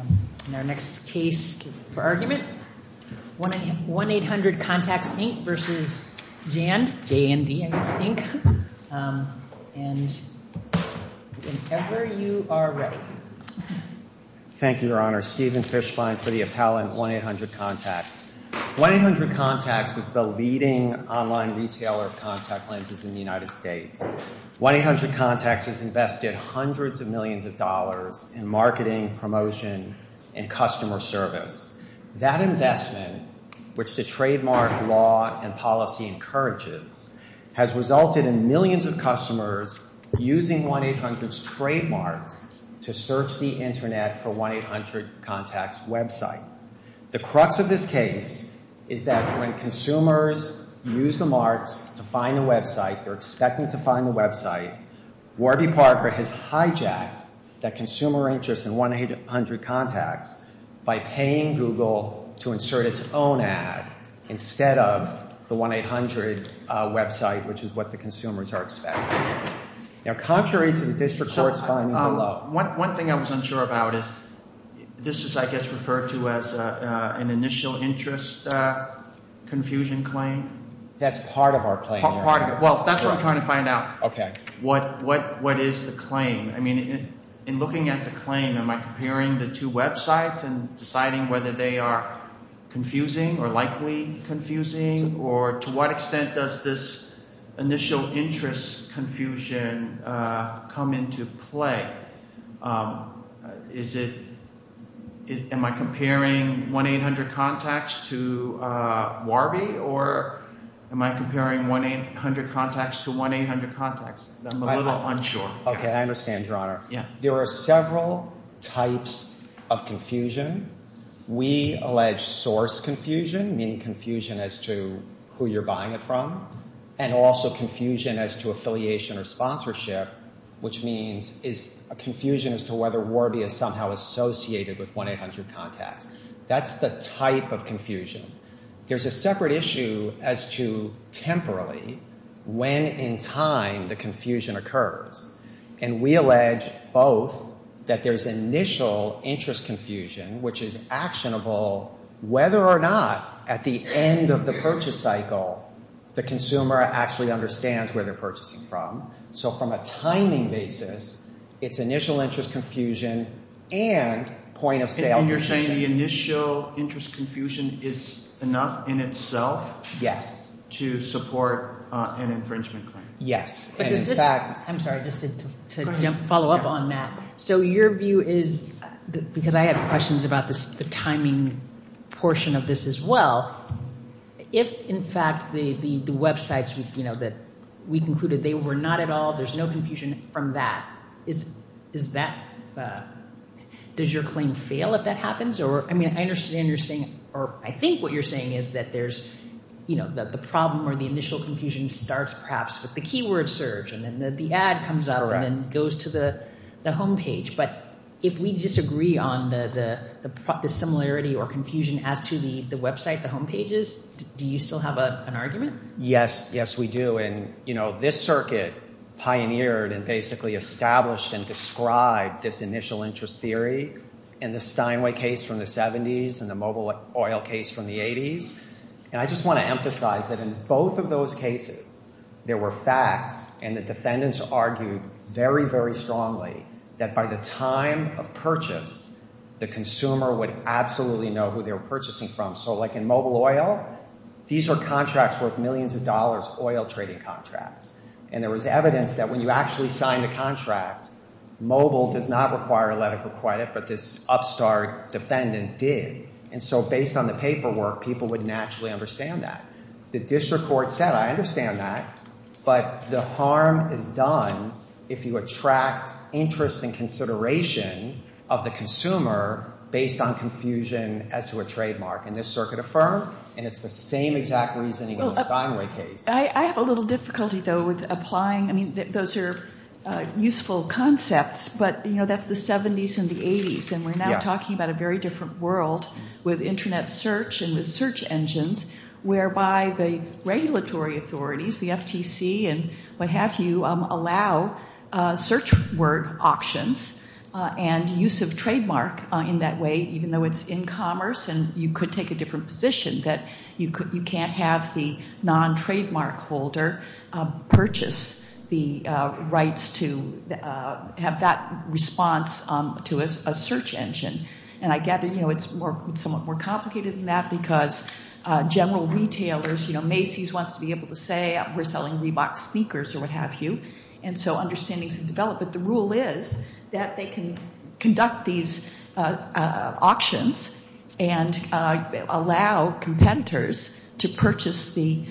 And in our next case for argument, 1-800 Contacts, Inc. v. JAND, J-A-N-D, I guess, Inc. And whenever you are ready. Thank you, Your Honor. Stephen Fischbein for the appellant, 1-800 Contacts. 1-800 Contacts is the leading online retailer of contact lenses in the United States. 1-800 Contacts has invested hundreds of millions of dollars in marketing, promotion, and customer service. That investment, which the trademark law and policy encourages, has resulted in millions of customers using 1-800's trademarks to search the Internet for 1-800 Contacts' website. The crux of this case is that when consumers use the marks to find the website, they're expecting to find the website. Warby Parker has hijacked that consumer interest in 1-800 Contacts by paying Google to insert its own ad instead of the 1-800 website, which is what the consumers are expecting. Now, contrary to the district court's finding below. One thing I was unsure about is this is, I guess, referred to as an initial interest confusion claim? That's part of our claim. Part of it. Well, that's what I'm trying to find out. Okay. What is the claim? I mean, in looking at the claim, am I comparing the two websites and deciding whether they are confusing or likely confusing, or to what extent does this initial interest confusion come into play? Am I comparing 1-800 Contacts to Warby, or am I comparing 1-800 Contacts to 1-800 Contacts? I'm a little unsure. I understand, Your Honor. Yeah. There are several types of confusion. We allege source confusion, meaning confusion as to who you're buying it from, and also a confusion as to whether Warby is somehow associated with 1-800 Contacts. That's the type of confusion. There's a separate issue as to, temporarily, when in time the confusion occurs. And we allege both that there's initial interest confusion, which is actionable whether or not at the end of the purchase cycle the consumer actually understands where they're purchasing from. So from a timing basis, it's initial interest confusion and point-of-sale confusion. And you're saying the initial interest confusion is enough in itself to support an infringement claim? Yes. I'm sorry, just to follow up on that. So your view is, because I have questions about the timing portion of this as well, if, in fact, the websites that we concluded they were not at all, there's no confusion from that, does your claim fail if that happens? I mean, I understand you're saying, or I think what you're saying is that the problem or the initial confusion starts, perhaps, with the keyword search, and then the ad comes up and then goes to the home page. But if we disagree on the similarity or confusion as to the website, the home pages, do you still have an argument? Yes. Yes, we do. And this circuit pioneered and basically established and described this initial interest theory in the Steinway case from the 70s and the Mobil Oil case from the 80s. And I just want to emphasize that in both of those cases, there were facts and the defendants argued very, very strongly that by the time of purchase, the consumer would absolutely know who they were purchasing from. So like in Mobil Oil, these are contracts worth millions of dollars, oil trading contracts. And there was evidence that when you actually sign the contract, Mobil does not require a letter of credit, but this upstart defendant did. And so based on the paperwork, people would naturally understand that. The district court said, I understand that, but the harm is done if you attract interest and consideration of the consumer based on confusion as to a trademark. And this circuit affirmed, and it's the same exact reasoning in the Steinway case. I have a little difficulty, though, with applying, I mean, those are useful concepts, but, you know, that's the 70s and the 80s, and we're now talking about a very different world with internet search and the search engines whereby the regulatory authorities, the FTC and what have you, allow search word auctions and use of trademark in that way, even though it's in commerce and you could take a different position, that you can't have the non-trademark holder purchase the rights to have that response to a search engine. And I gather, you know, it's somewhat more complicated than that because general retailers, you know, Macy's wants to be able to say we're selling Reebok sneakers or what have you. And so understandings have developed, but the rule is that they can conduct these auctions and allow competitors to purchase the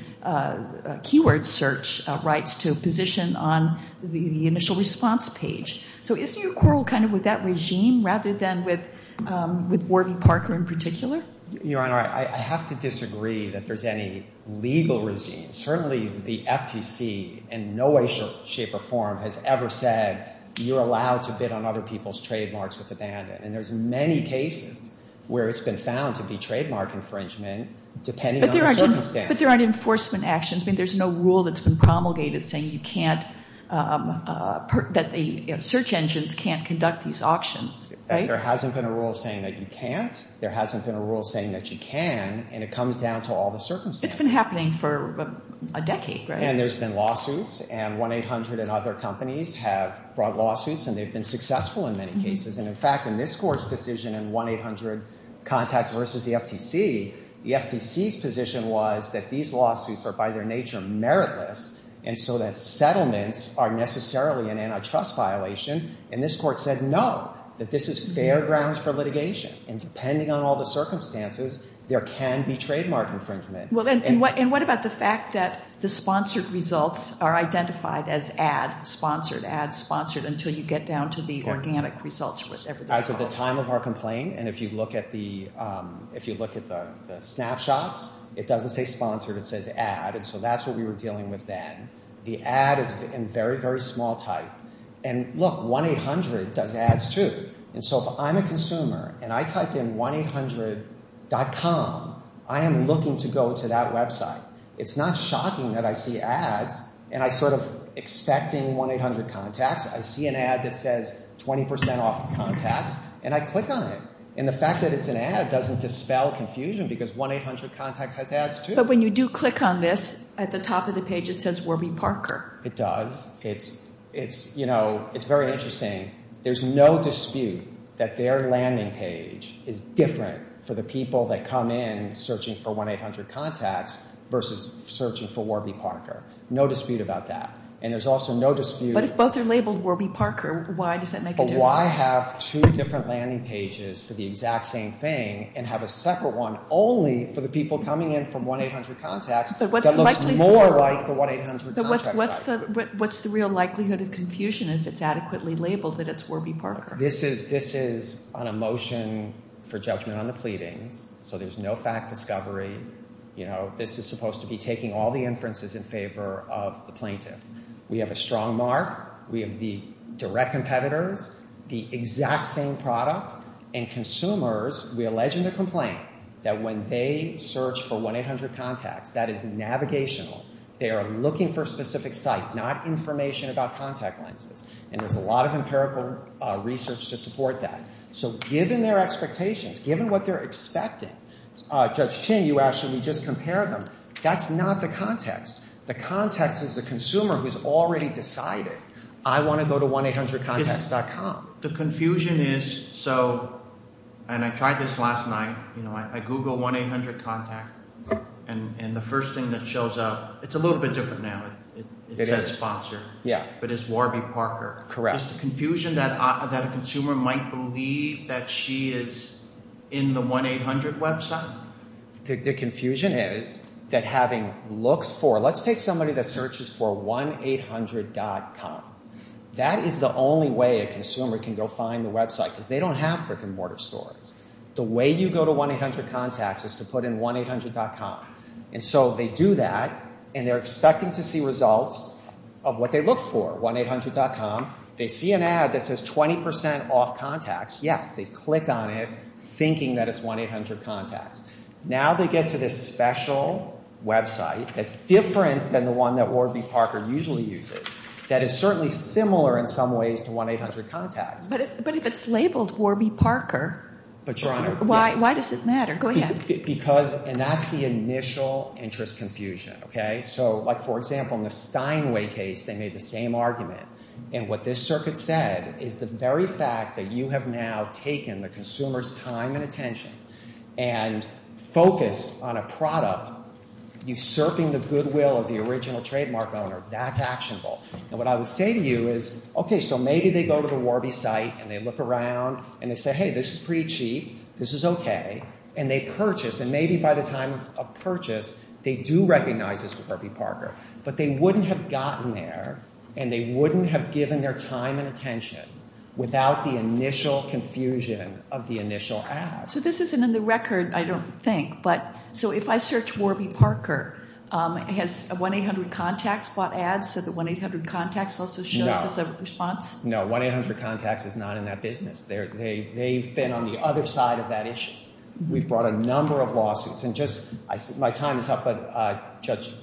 keyword search rights to position on the initial response page. So isn't your quarrel kind of with that regime rather than with Warby Parker in particular? Your Honor, I have to disagree that there's any legal regime. Certainly the FTC in no way, shape, or form has ever said you're allowed to bid on other people's trademarks with abandon. And there's many cases where it's been found to be trademark infringement depending on the circumstances. But there aren't enforcement actions. There's no rule that's been promulgated saying you can't, that the search engines can't conduct these auctions, right? There hasn't been a rule saying that you can't. There hasn't been a rule saying that you can. And it comes down to all the circumstances. It's been happening for a decade, right? And there's been lawsuits. And 1-800 and other companies have brought lawsuits and they've been successful in many cases. And in fact, in this Court's decision in 1-800 contacts versus the FTC, the FTC's position was that these lawsuits are by their nature meritless and so that settlements are necessarily an antitrust violation. And this Court said no, that this is fair grounds for litigation. And depending on all the circumstances, there can be trademark infringement. Well, and what about the fact that the sponsored results are identified as ad-sponsored, ad-sponsored, until you get down to the organic results with everything else? As of the time of our complaint, and if you look at the snapshots, it doesn't say sponsored. It says ad, and so that's what we were dealing with then. The ad is in very, very small type. And look, 1-800 does ads too. And so if I'm a consumer and I type in 1-800.com, I am looking to go to that website. It's not shocking that I see ads and I sort of expecting 1-800 contacts. I see an ad that says 20% off contacts and I click on it. And the fact that it's an ad doesn't dispel confusion because 1-800 contacts has ads too. But when you do click on this, at the top of the page it says Warby Parker. It does. It's, you know, it's very interesting. There's no dispute that their landing page is different for the people that come in searching for 1-800 contacts versus searching for Warby Parker. No dispute about that. And there's also no dispute. But if both are labeled Warby Parker, why does that make a difference? But why have two different landing pages for the exact same thing and have a separate one only for the people coming in from 1-800 contacts that looks more like the 1-800 contact site? But what's the real likelihood of confusion if it's adequately labeled that it's Warby Parker? This is on a motion for judgment on the pleadings. So there's no fact discovery. You know, this is supposed to be taking all the inferences in favor of the plaintiff. We have a strong mark. We have the direct competitors, the exact same product. And consumers, we allege in the complaint that when they search for 1-800 contacts, that is navigational. They are looking for a specific site, not information about contact lenses. And there's a lot of empirical research to support that. So given their expectations, given what they're expecting, Judge Chin, you asked should we just compare them. That's not the context. The context is the consumer who's already decided, I want to go to 1-800contacts.com. The confusion is, so, and I tried this last night. You know, I Google 1-800 contact. And the first thing that shows up, it's a little bit different now. It says sponsor. Yeah. But it's Warby Parker. Correct. Is the confusion that a consumer might believe that she is in the 1-800 website? The confusion is that having looked for, let's take somebody that searches for 1-800.com. That is the only way a consumer can go find the website because they don't have brick and mortar stores. The way you go to 1-800contacts is to put in 1-800.com. And so they do that and they're expecting to see results of what they look for, 1-800.com. They see an ad that says 20% off contacts. Yes, they click on it thinking that it's 1-800contacts. Now they get to this special website that's different than the one that Warby Parker usually uses that is certainly similar in some ways to 1-800contacts. But if it's labeled Warby Parker, why does it matter? Go ahead. Because, and that's the initial interest confusion, okay? So like for example, in the Steinway case, they made the same argument. And what this circuit said is the very fact that you have now taken the consumer's time and attention and focused on a product, usurping the goodwill of the original trademark owner, that's actionable. And what I would say to you is, okay, so maybe they go to the Warby site and they look around and they say, hey, this is pretty cheap, this is okay, and they purchase. And maybe by the time of purchase, they do recognize it's Warby Parker. But they wouldn't have gotten there and they wouldn't have given their time and attention without the initial confusion of the initial ad. So this isn't in the record, I don't think. But, so if I search Warby Parker, has 1-800contacts bought ads so that 1-800contacts also shows us a response? No. 1-800contacts is not in that business. They've been on the other side of that issue. We've brought a number of lawsuits. And just, my time is up, but Judge,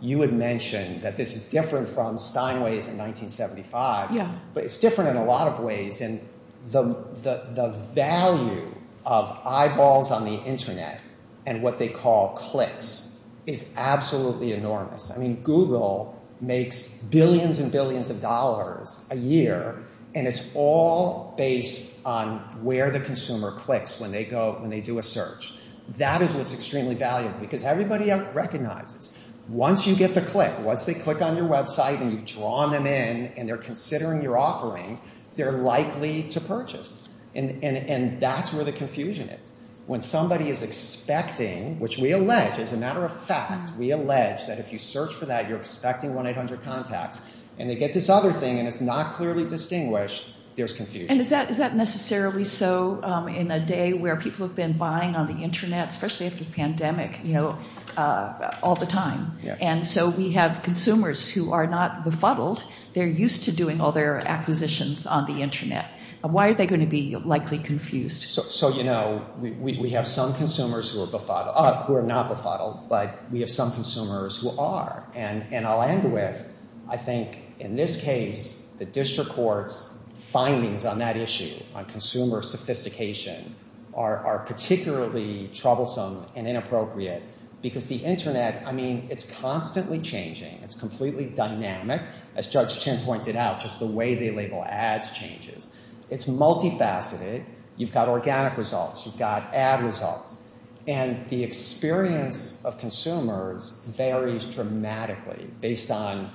you had mentioned that this is different from Steinway's in 1975, but it's different in a lot of ways. And the value of eyeballs on the internet and what they call clicks is absolutely enormous. I mean, Google makes billions and billions of dollars a year, and it's all based on where the consumer clicks when they go, when they do a search. That is what's extremely valuable, because everybody recognizes, once you get the click, once they click on your website and you've drawn them in and they're considering your offering, they're likely to purchase, and that's where the confusion is. When somebody is expecting, which we allege, as a matter of fact, we allege that if you search for that, you're expecting 1-800contacts, and they get this other thing and it's not clearly distinguished, there's confusion. And is that necessarily so in a day where people have been buying on the internet, especially with the pandemic, you know, all the time? And so we have consumers who are not befuddled. They're used to doing all their acquisitions on the internet. Why are they going to be likely confused? So, you know, we have some consumers who are befuddled, who are not befuddled, but we have some consumers who are. And I'll end with, I think, in this case, the district court's findings on that issue, on consumer sophistication, are particularly troublesome and inappropriate, because the internet, I mean, it's constantly changing. It's completely dynamic, as Judge Chin pointed out, just the way they label ads changes. It's multifaceted. You've got organic results. You've got ad results. And the experience of consumers varies dramatically based on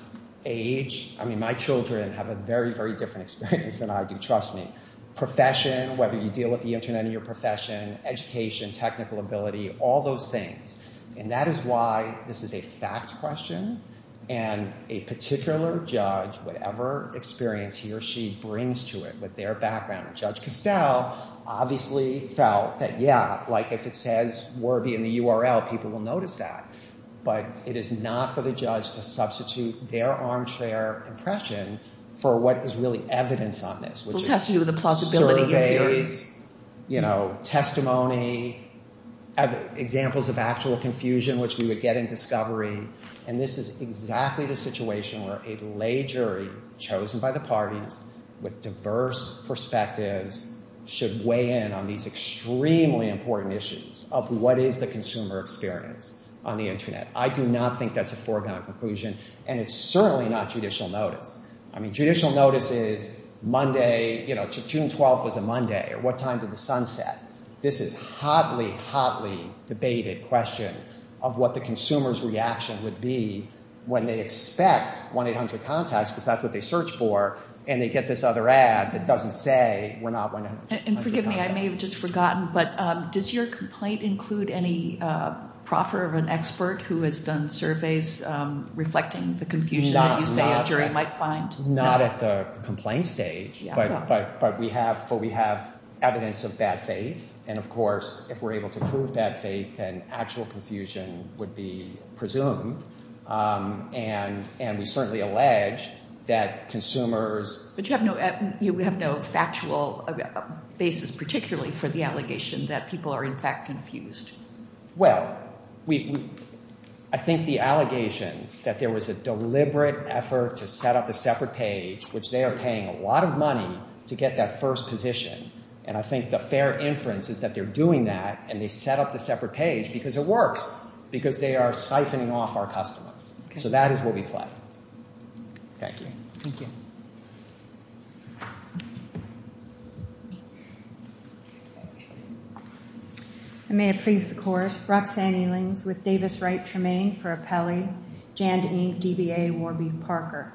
age. I mean, my children have a very, very different experience than I do, trust me. Profession, whether you deal with the internet in your profession, education, technical ability, all those things. And that is why this is a fact question. And a particular judge, whatever experience he or she brings to it with their background, Judge Costell obviously felt that, yeah, like if it says Warby in the URL, people will notice that. But it is not for the judge to substitute their armchair impression for what is really evidence on this. It has to do with the plausibility of your experience. You know, testimony, examples of actual confusion, which we would get in discovery. And this is exactly the situation where a lay jury chosen by the parties with diverse perspectives should weigh in on these extremely important issues of what is the consumer experience on the internet. I do not think that's a foregone conclusion. And it's certainly not judicial notice. I mean, judicial notice is Monday, you know, June 12th was a Monday. At what time did the sun set? This is hotly, hotly debated question of what the consumer's reaction would be when they expect 1-800-CONTACT because that's what they search for and they get this other ad that doesn't say we're not 1-800-CONTACT. And forgive me, I may have just forgotten, but does your complaint include any proffer of an expert who has done surveys reflecting the confusion that you say a jury might find? Not at the complaint stage, but we have evidence of bad faith. And of course, if we're able to prove bad faith, then actual confusion would be presumed. And we certainly allege that consumers. But you have no factual basis particularly for the allegation that people are in fact confused. Well, we, I think the allegation that there was a deliberate effort to set up a separate page, which they are paying a lot of money to get that first position. And I think the fair inference is that they're doing that and they set up the separate page because it works, because they are siphoning off our customers. So that is where we play. Thank you. Thank you. I may have pleased the court. Roxanne Elings with Davis Wright Tremaine for Appellee, Jandine DBA Warby Parker.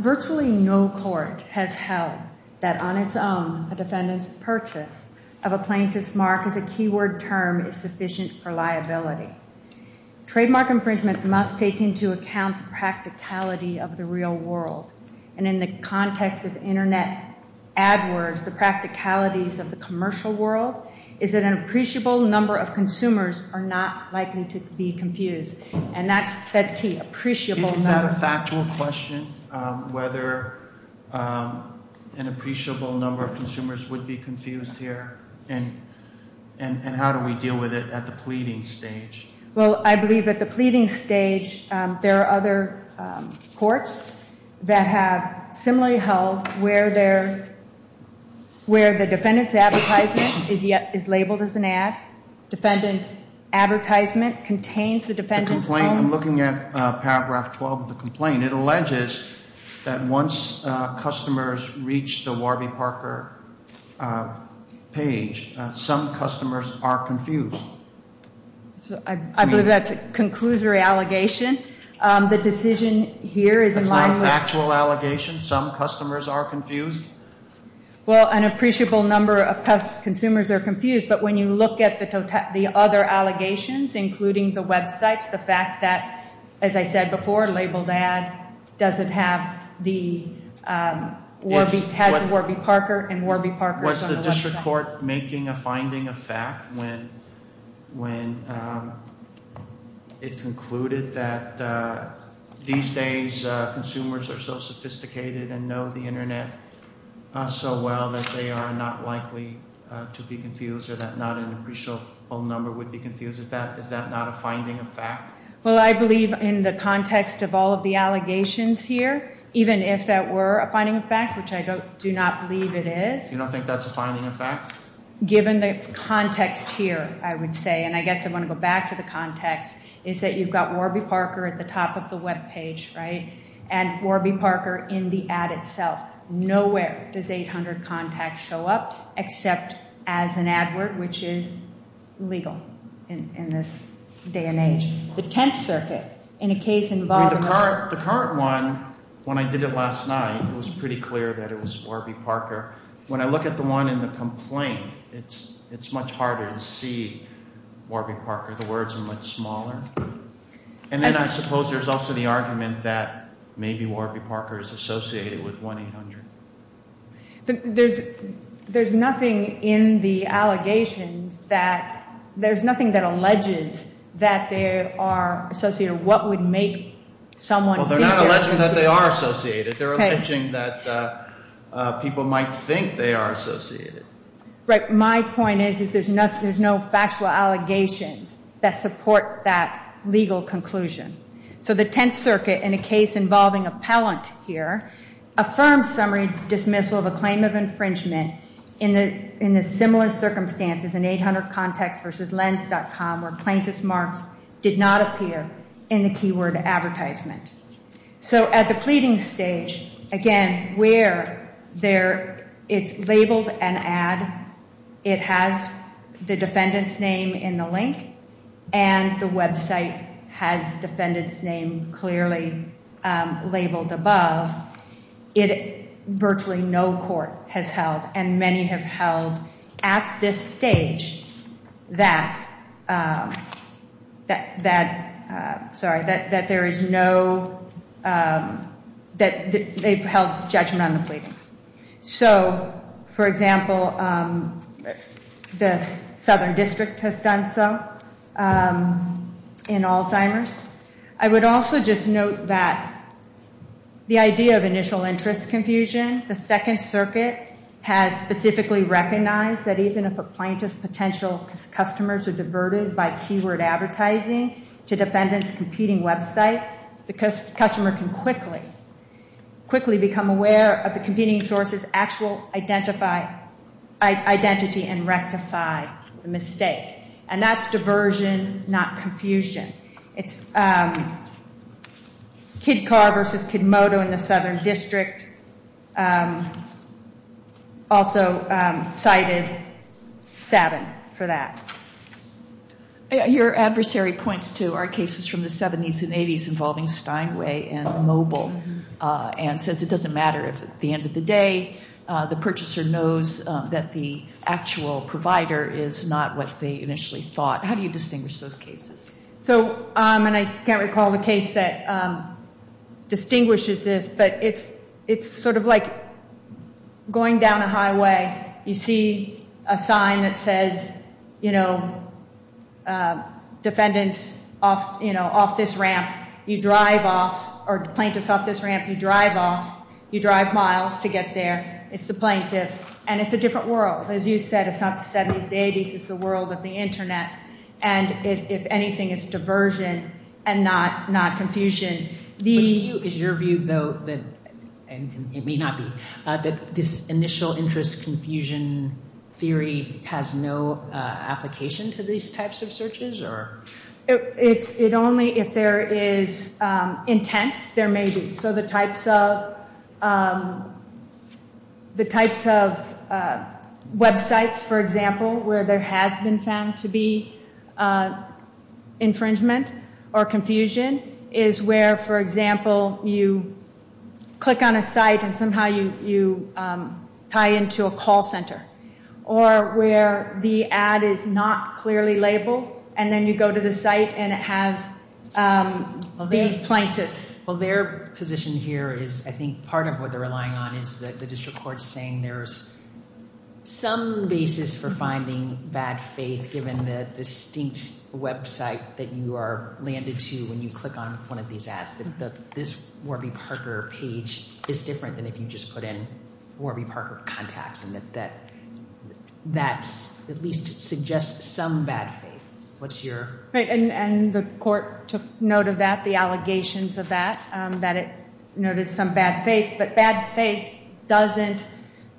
Virtually no court has held that on its own a defendant's purchase of a plaintiff's mark as a keyword term is sufficient for liability. Trademark infringement must take into account the practicality of the real world. And in the context of internet ad words, the practicalities of the commercial world is that an appreciable number of consumers are not likely to be confused. And that's key, appreciable number. Is that a factual question, whether an appreciable number of consumers would be confused here? And how do we deal with it at the pleading stage? Well, I believe at the pleading stage, there are other courts that have similarly held where the defendant's advertisement is labeled as an ad. Defendant's advertisement contains the defendant's own. And it alleges that once customers reach the Warby Parker page, some customers are confused. So I believe that's a conclusory allegation. The decision here is in line with. That's not a factual allegation. Some customers are confused. Well, an appreciable number of consumers are confused. But when you look at the other allegations, including the websites, the fact that, as I said before, labeled ad doesn't have the Warby, has Warby Parker and Warby Parker. Was the district court making a finding of fact when it concluded that these days consumers are so sophisticated and know the internet so well that they are not likely to be confused or that not an appreciable number would be confused? Is that not a finding of fact? Well, I believe in the context of all of the allegations here, even if that were a finding of fact, which I do not believe it is. You don't think that's a finding of fact? Given the context here, I would say, and I guess I want to go back to the context, is that you've got Warby Parker at the top of the webpage, right? And Warby Parker in the ad itself. Nowhere does 800 contact show up except as an ad word, which is legal in this day and age. The Tenth Circuit, in a case involving- The current one, when I did it last night, it was pretty clear that it was Warby Parker. When I look at the one in the complaint, it's much harder to see Warby Parker. The words are much smaller. And then I suppose there's also the argument that maybe Warby Parker is associated with 1-800. There's nothing in the allegations that- There's nothing that alleges that they are associated. What would make someone- Well, they're not alleging that they are associated. They're alleging that people might think they are associated. Right. My point is, is there's no factual allegations that support that legal conclusion. So the Tenth Circuit, in a case involving appellant here, affirmed summary dismissal of a claim of infringement in the similar circumstances in 800contactsvslens.com where plaintiff's marks did not appear in the keyword advertisement. So at the pleading stage, again, where it's labeled an ad, it has the defendant's name in the link, and the website has defendant's name clearly labeled above, virtually no court has held, and many have held at this stage, that there is no- that they've held judgment on the pleadings. So, for example, the Southern District has done so in Alzheimer's. I would also just note that the idea of initial interest confusion, the Second Circuit has specifically recognized that even if a plaintiff's potential customers are diverted by keyword advertising to defendant's competing website, the customer can quickly become aware of the competing source's actual identity and rectify the mistake. And that's diversion, not confusion. It's Kid Car vs. Kid Moto in the Southern District, also cited Sabin for that. Your adversary points to our cases from the 70s and 80s involving Steinway and Mobil and says it doesn't matter if at the end of the day the purchaser knows that the actual provider is not what they initially thought. How do you distinguish those cases? So, and I can't recall the case that distinguishes this, but it's sort of like going down a highway, you see a sign that says, you know, defendants off, you know, off this ramp, you drive off, or plaintiffs off this ramp, you drive off, you drive miles to get there. It's the plaintiff. And it's a different world. As you said, it's not the 70s, the 80s, it's the world of the internet. And if anything, it's diversion and not confusion. Is your view, though, and it may not be, that this initial interest confusion theory has no application to these types of searches? It only, if there is intent, there may be. So the types of websites, for example, where there has been found to be infringement or confusion is where, for example, you click on a site and somehow you tie into a call center. Or where the ad is not clearly labeled, and then you go to the site and it has the plaintiffs. Well, their position here is, I think, part of what they're relying on is that the district court's saying there's some basis for finding bad faith, given the distinct website that you are landed to when you click on one of these ads. That this Warby Parker page is different than if you just put in Warby Parker contacts. And that that at least suggests some bad faith. What's your? And the court took note of that, the allegations of that, that it noted some bad faith. But bad faith doesn't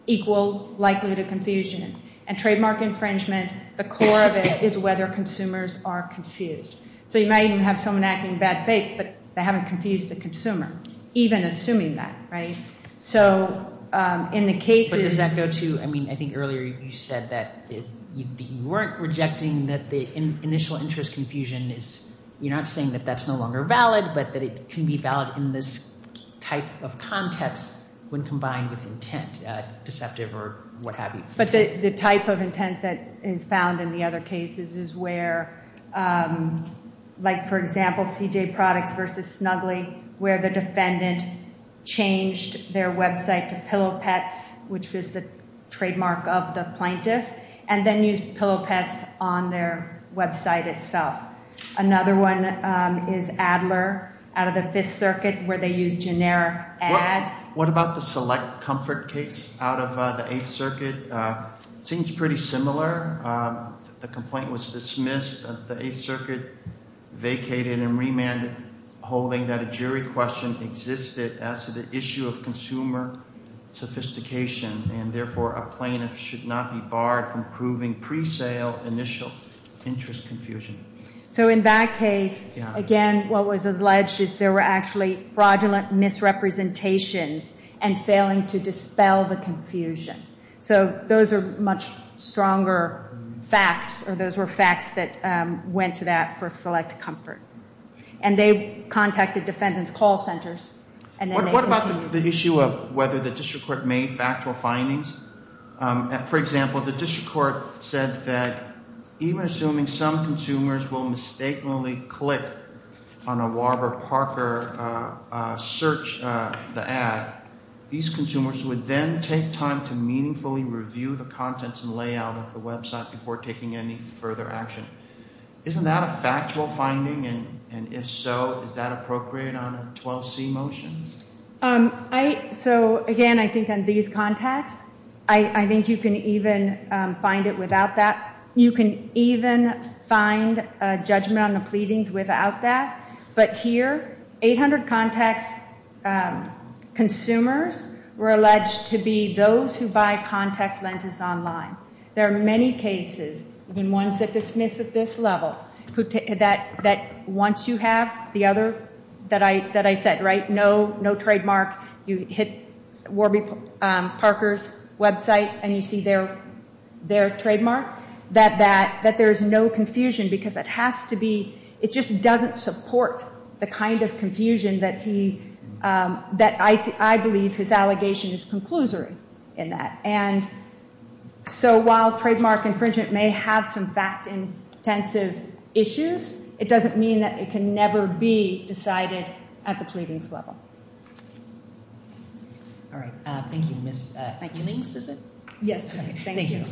equal likelihood of confusion. And trademark infringement, the core of it is whether consumers are confused. So you might even have someone acting bad faith, but they haven't confused the consumer. Even assuming that, right? So in the cases. But does that go to, I mean, I think earlier you said that you weren't rejecting that the initial interest confusion is, you're not saying that that's no longer valid, but that it can be valid in this type of context when combined with intent, deceptive or what have you. But the type of intent that is found in the other cases is where, like for example, CJ Products versus Snuggly, where the defendant changed their website to Pillow Pets, which was the trademark of the plaintiff. And then used Pillow Pets on their website itself. Another one is Adler, out of the Fifth Circuit, where they used generic ads. What about the Select Comfort case out of the Eighth Circuit? Seems pretty similar. The complaint was dismissed. The Eighth Circuit vacated and remanded, holding that a jury question existed as to the issue of consumer sophistication. And therefore, a plaintiff should not be barred from proving pre-sale initial interest confusion. So in that case, again, what was alleged is there were actually fraudulent misrepresentations and failing to dispel the confusion. So those are much stronger facts. Those were facts that went to that for Select Comfort. And they contacted defendant's call centers. What about the issue of whether the district court made factual findings? For example, the district court said that even assuming some consumers will mistakenly click on a Warber Parker search, the ad, these consumers would then take time to meaningfully review the contents and layout of the website before taking any further action. Isn't that a factual finding? And if so, is that appropriate on a 12C motion? So again, I think on these contacts, I think you can even find it without that. You can even find a judgment on the pleadings without that. But here, 800 contacts, consumers were alleged to be those who buy contact lenses online. There are many cases, even ones that dismiss at this level, that once you have the other, that I said, right, no trademark, you hit Warby Parker's website and you see their trademark, that there's no confusion because it has to be, it just doesn't support the kind of confusion that he, that I believe his allegation is conclusory in that. And so while trademark infringement may have some fact-intensive issues, it doesn't mean that it can never be decided at the pleadings level. All right. Thank you, Ms. Ewing. Yes. Thank you.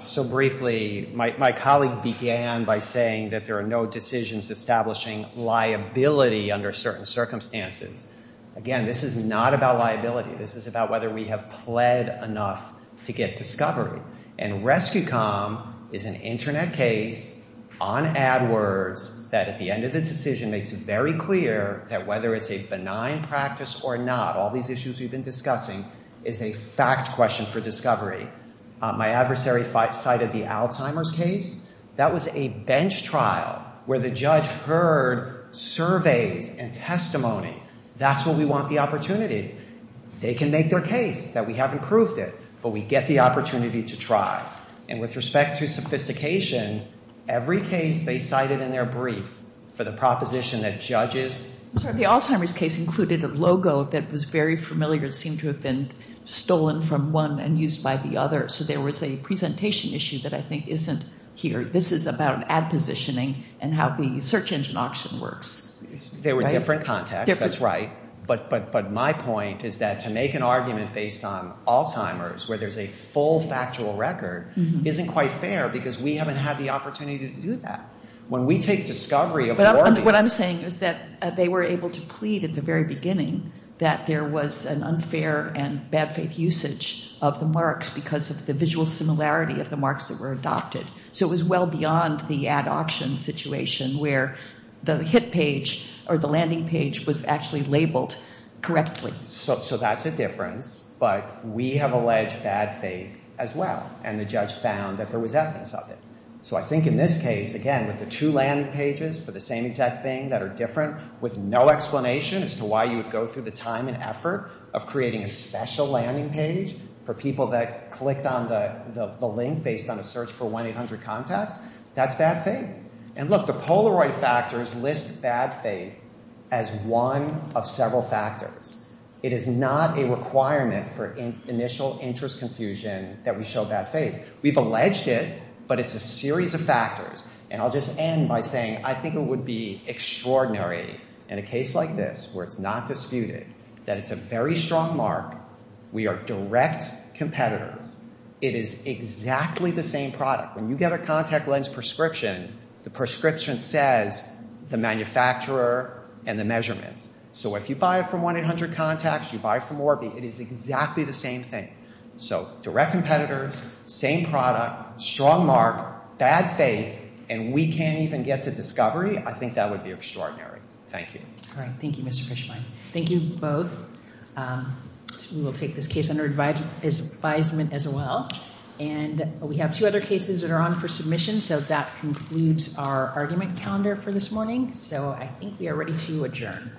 So briefly, my colleague began by saying that there are no decisions establishing liability under certain circumstances. Again, this is not about liability. This is about whether we have pled enough to get discovery. And Rescue.com is an internet case on AdWords that at the end of the decision makes it very clear that whether it's a benign practice or not, all these issues we've been discussing is a fact question for discovery. My adversary cited the Alzheimer's case. That was a bench trial where the judge heard surveys and testimony. That's where we want the opportunity. They can make their case that we haven't proved it, but we get the opportunity to try. And with respect to sophistication, every case they cited in their brief for the proposition that judges... very familiar, seemed to have been stolen from one and used by the other. So there was a presentation issue that I think isn't here. This is about ad positioning and how the search engine auction works. They were different contexts. That's right. But my point is that to make an argument based on Alzheimer's, where there's a full factual record, isn't quite fair because we haven't had the opportunity to do that. When we take discovery... What I'm saying is that they were able to plead at the very beginning that there was an unfair and bad faith usage of the marks because of the visual similarity of the marks that were adopted. So it was well beyond the ad auction situation where the landing page was actually labeled correctly. So that's a difference. But we have alleged bad faith as well. And the judge found that there was evidence of it. So I think in this case, again, with the two landing pages for the same exact thing that are different with no explanation as to why you would go through the time and effort of creating a special landing page for people that clicked on the link based on a search for 1-800 contacts, that's bad faith. And look, the Polaroid factors list bad faith as one of several factors. It is not a requirement for initial interest confusion that we show bad faith. We've alleged it, but it's a series of factors. And I'll just end by saying, I think it would be extraordinary in a case like this where it's not disputed that it's a very strong mark, we are direct competitors, it is exactly the same product. When you get a contact lens prescription, the prescription says the manufacturer and the measurements. So if you buy it from 1-800 contacts, you buy it from Orbi, it is exactly the same thing. So direct competitors, same product, strong mark, bad faith, and we can't even get to discovery, I think that would be extraordinary. Thank you. Thank you, Mr. Fishbein. Thank you both. We will take this case under advisement as well. And we have two other cases that are on for submission, so that concludes our argument calendar for this morning. So I think we are ready to adjourn.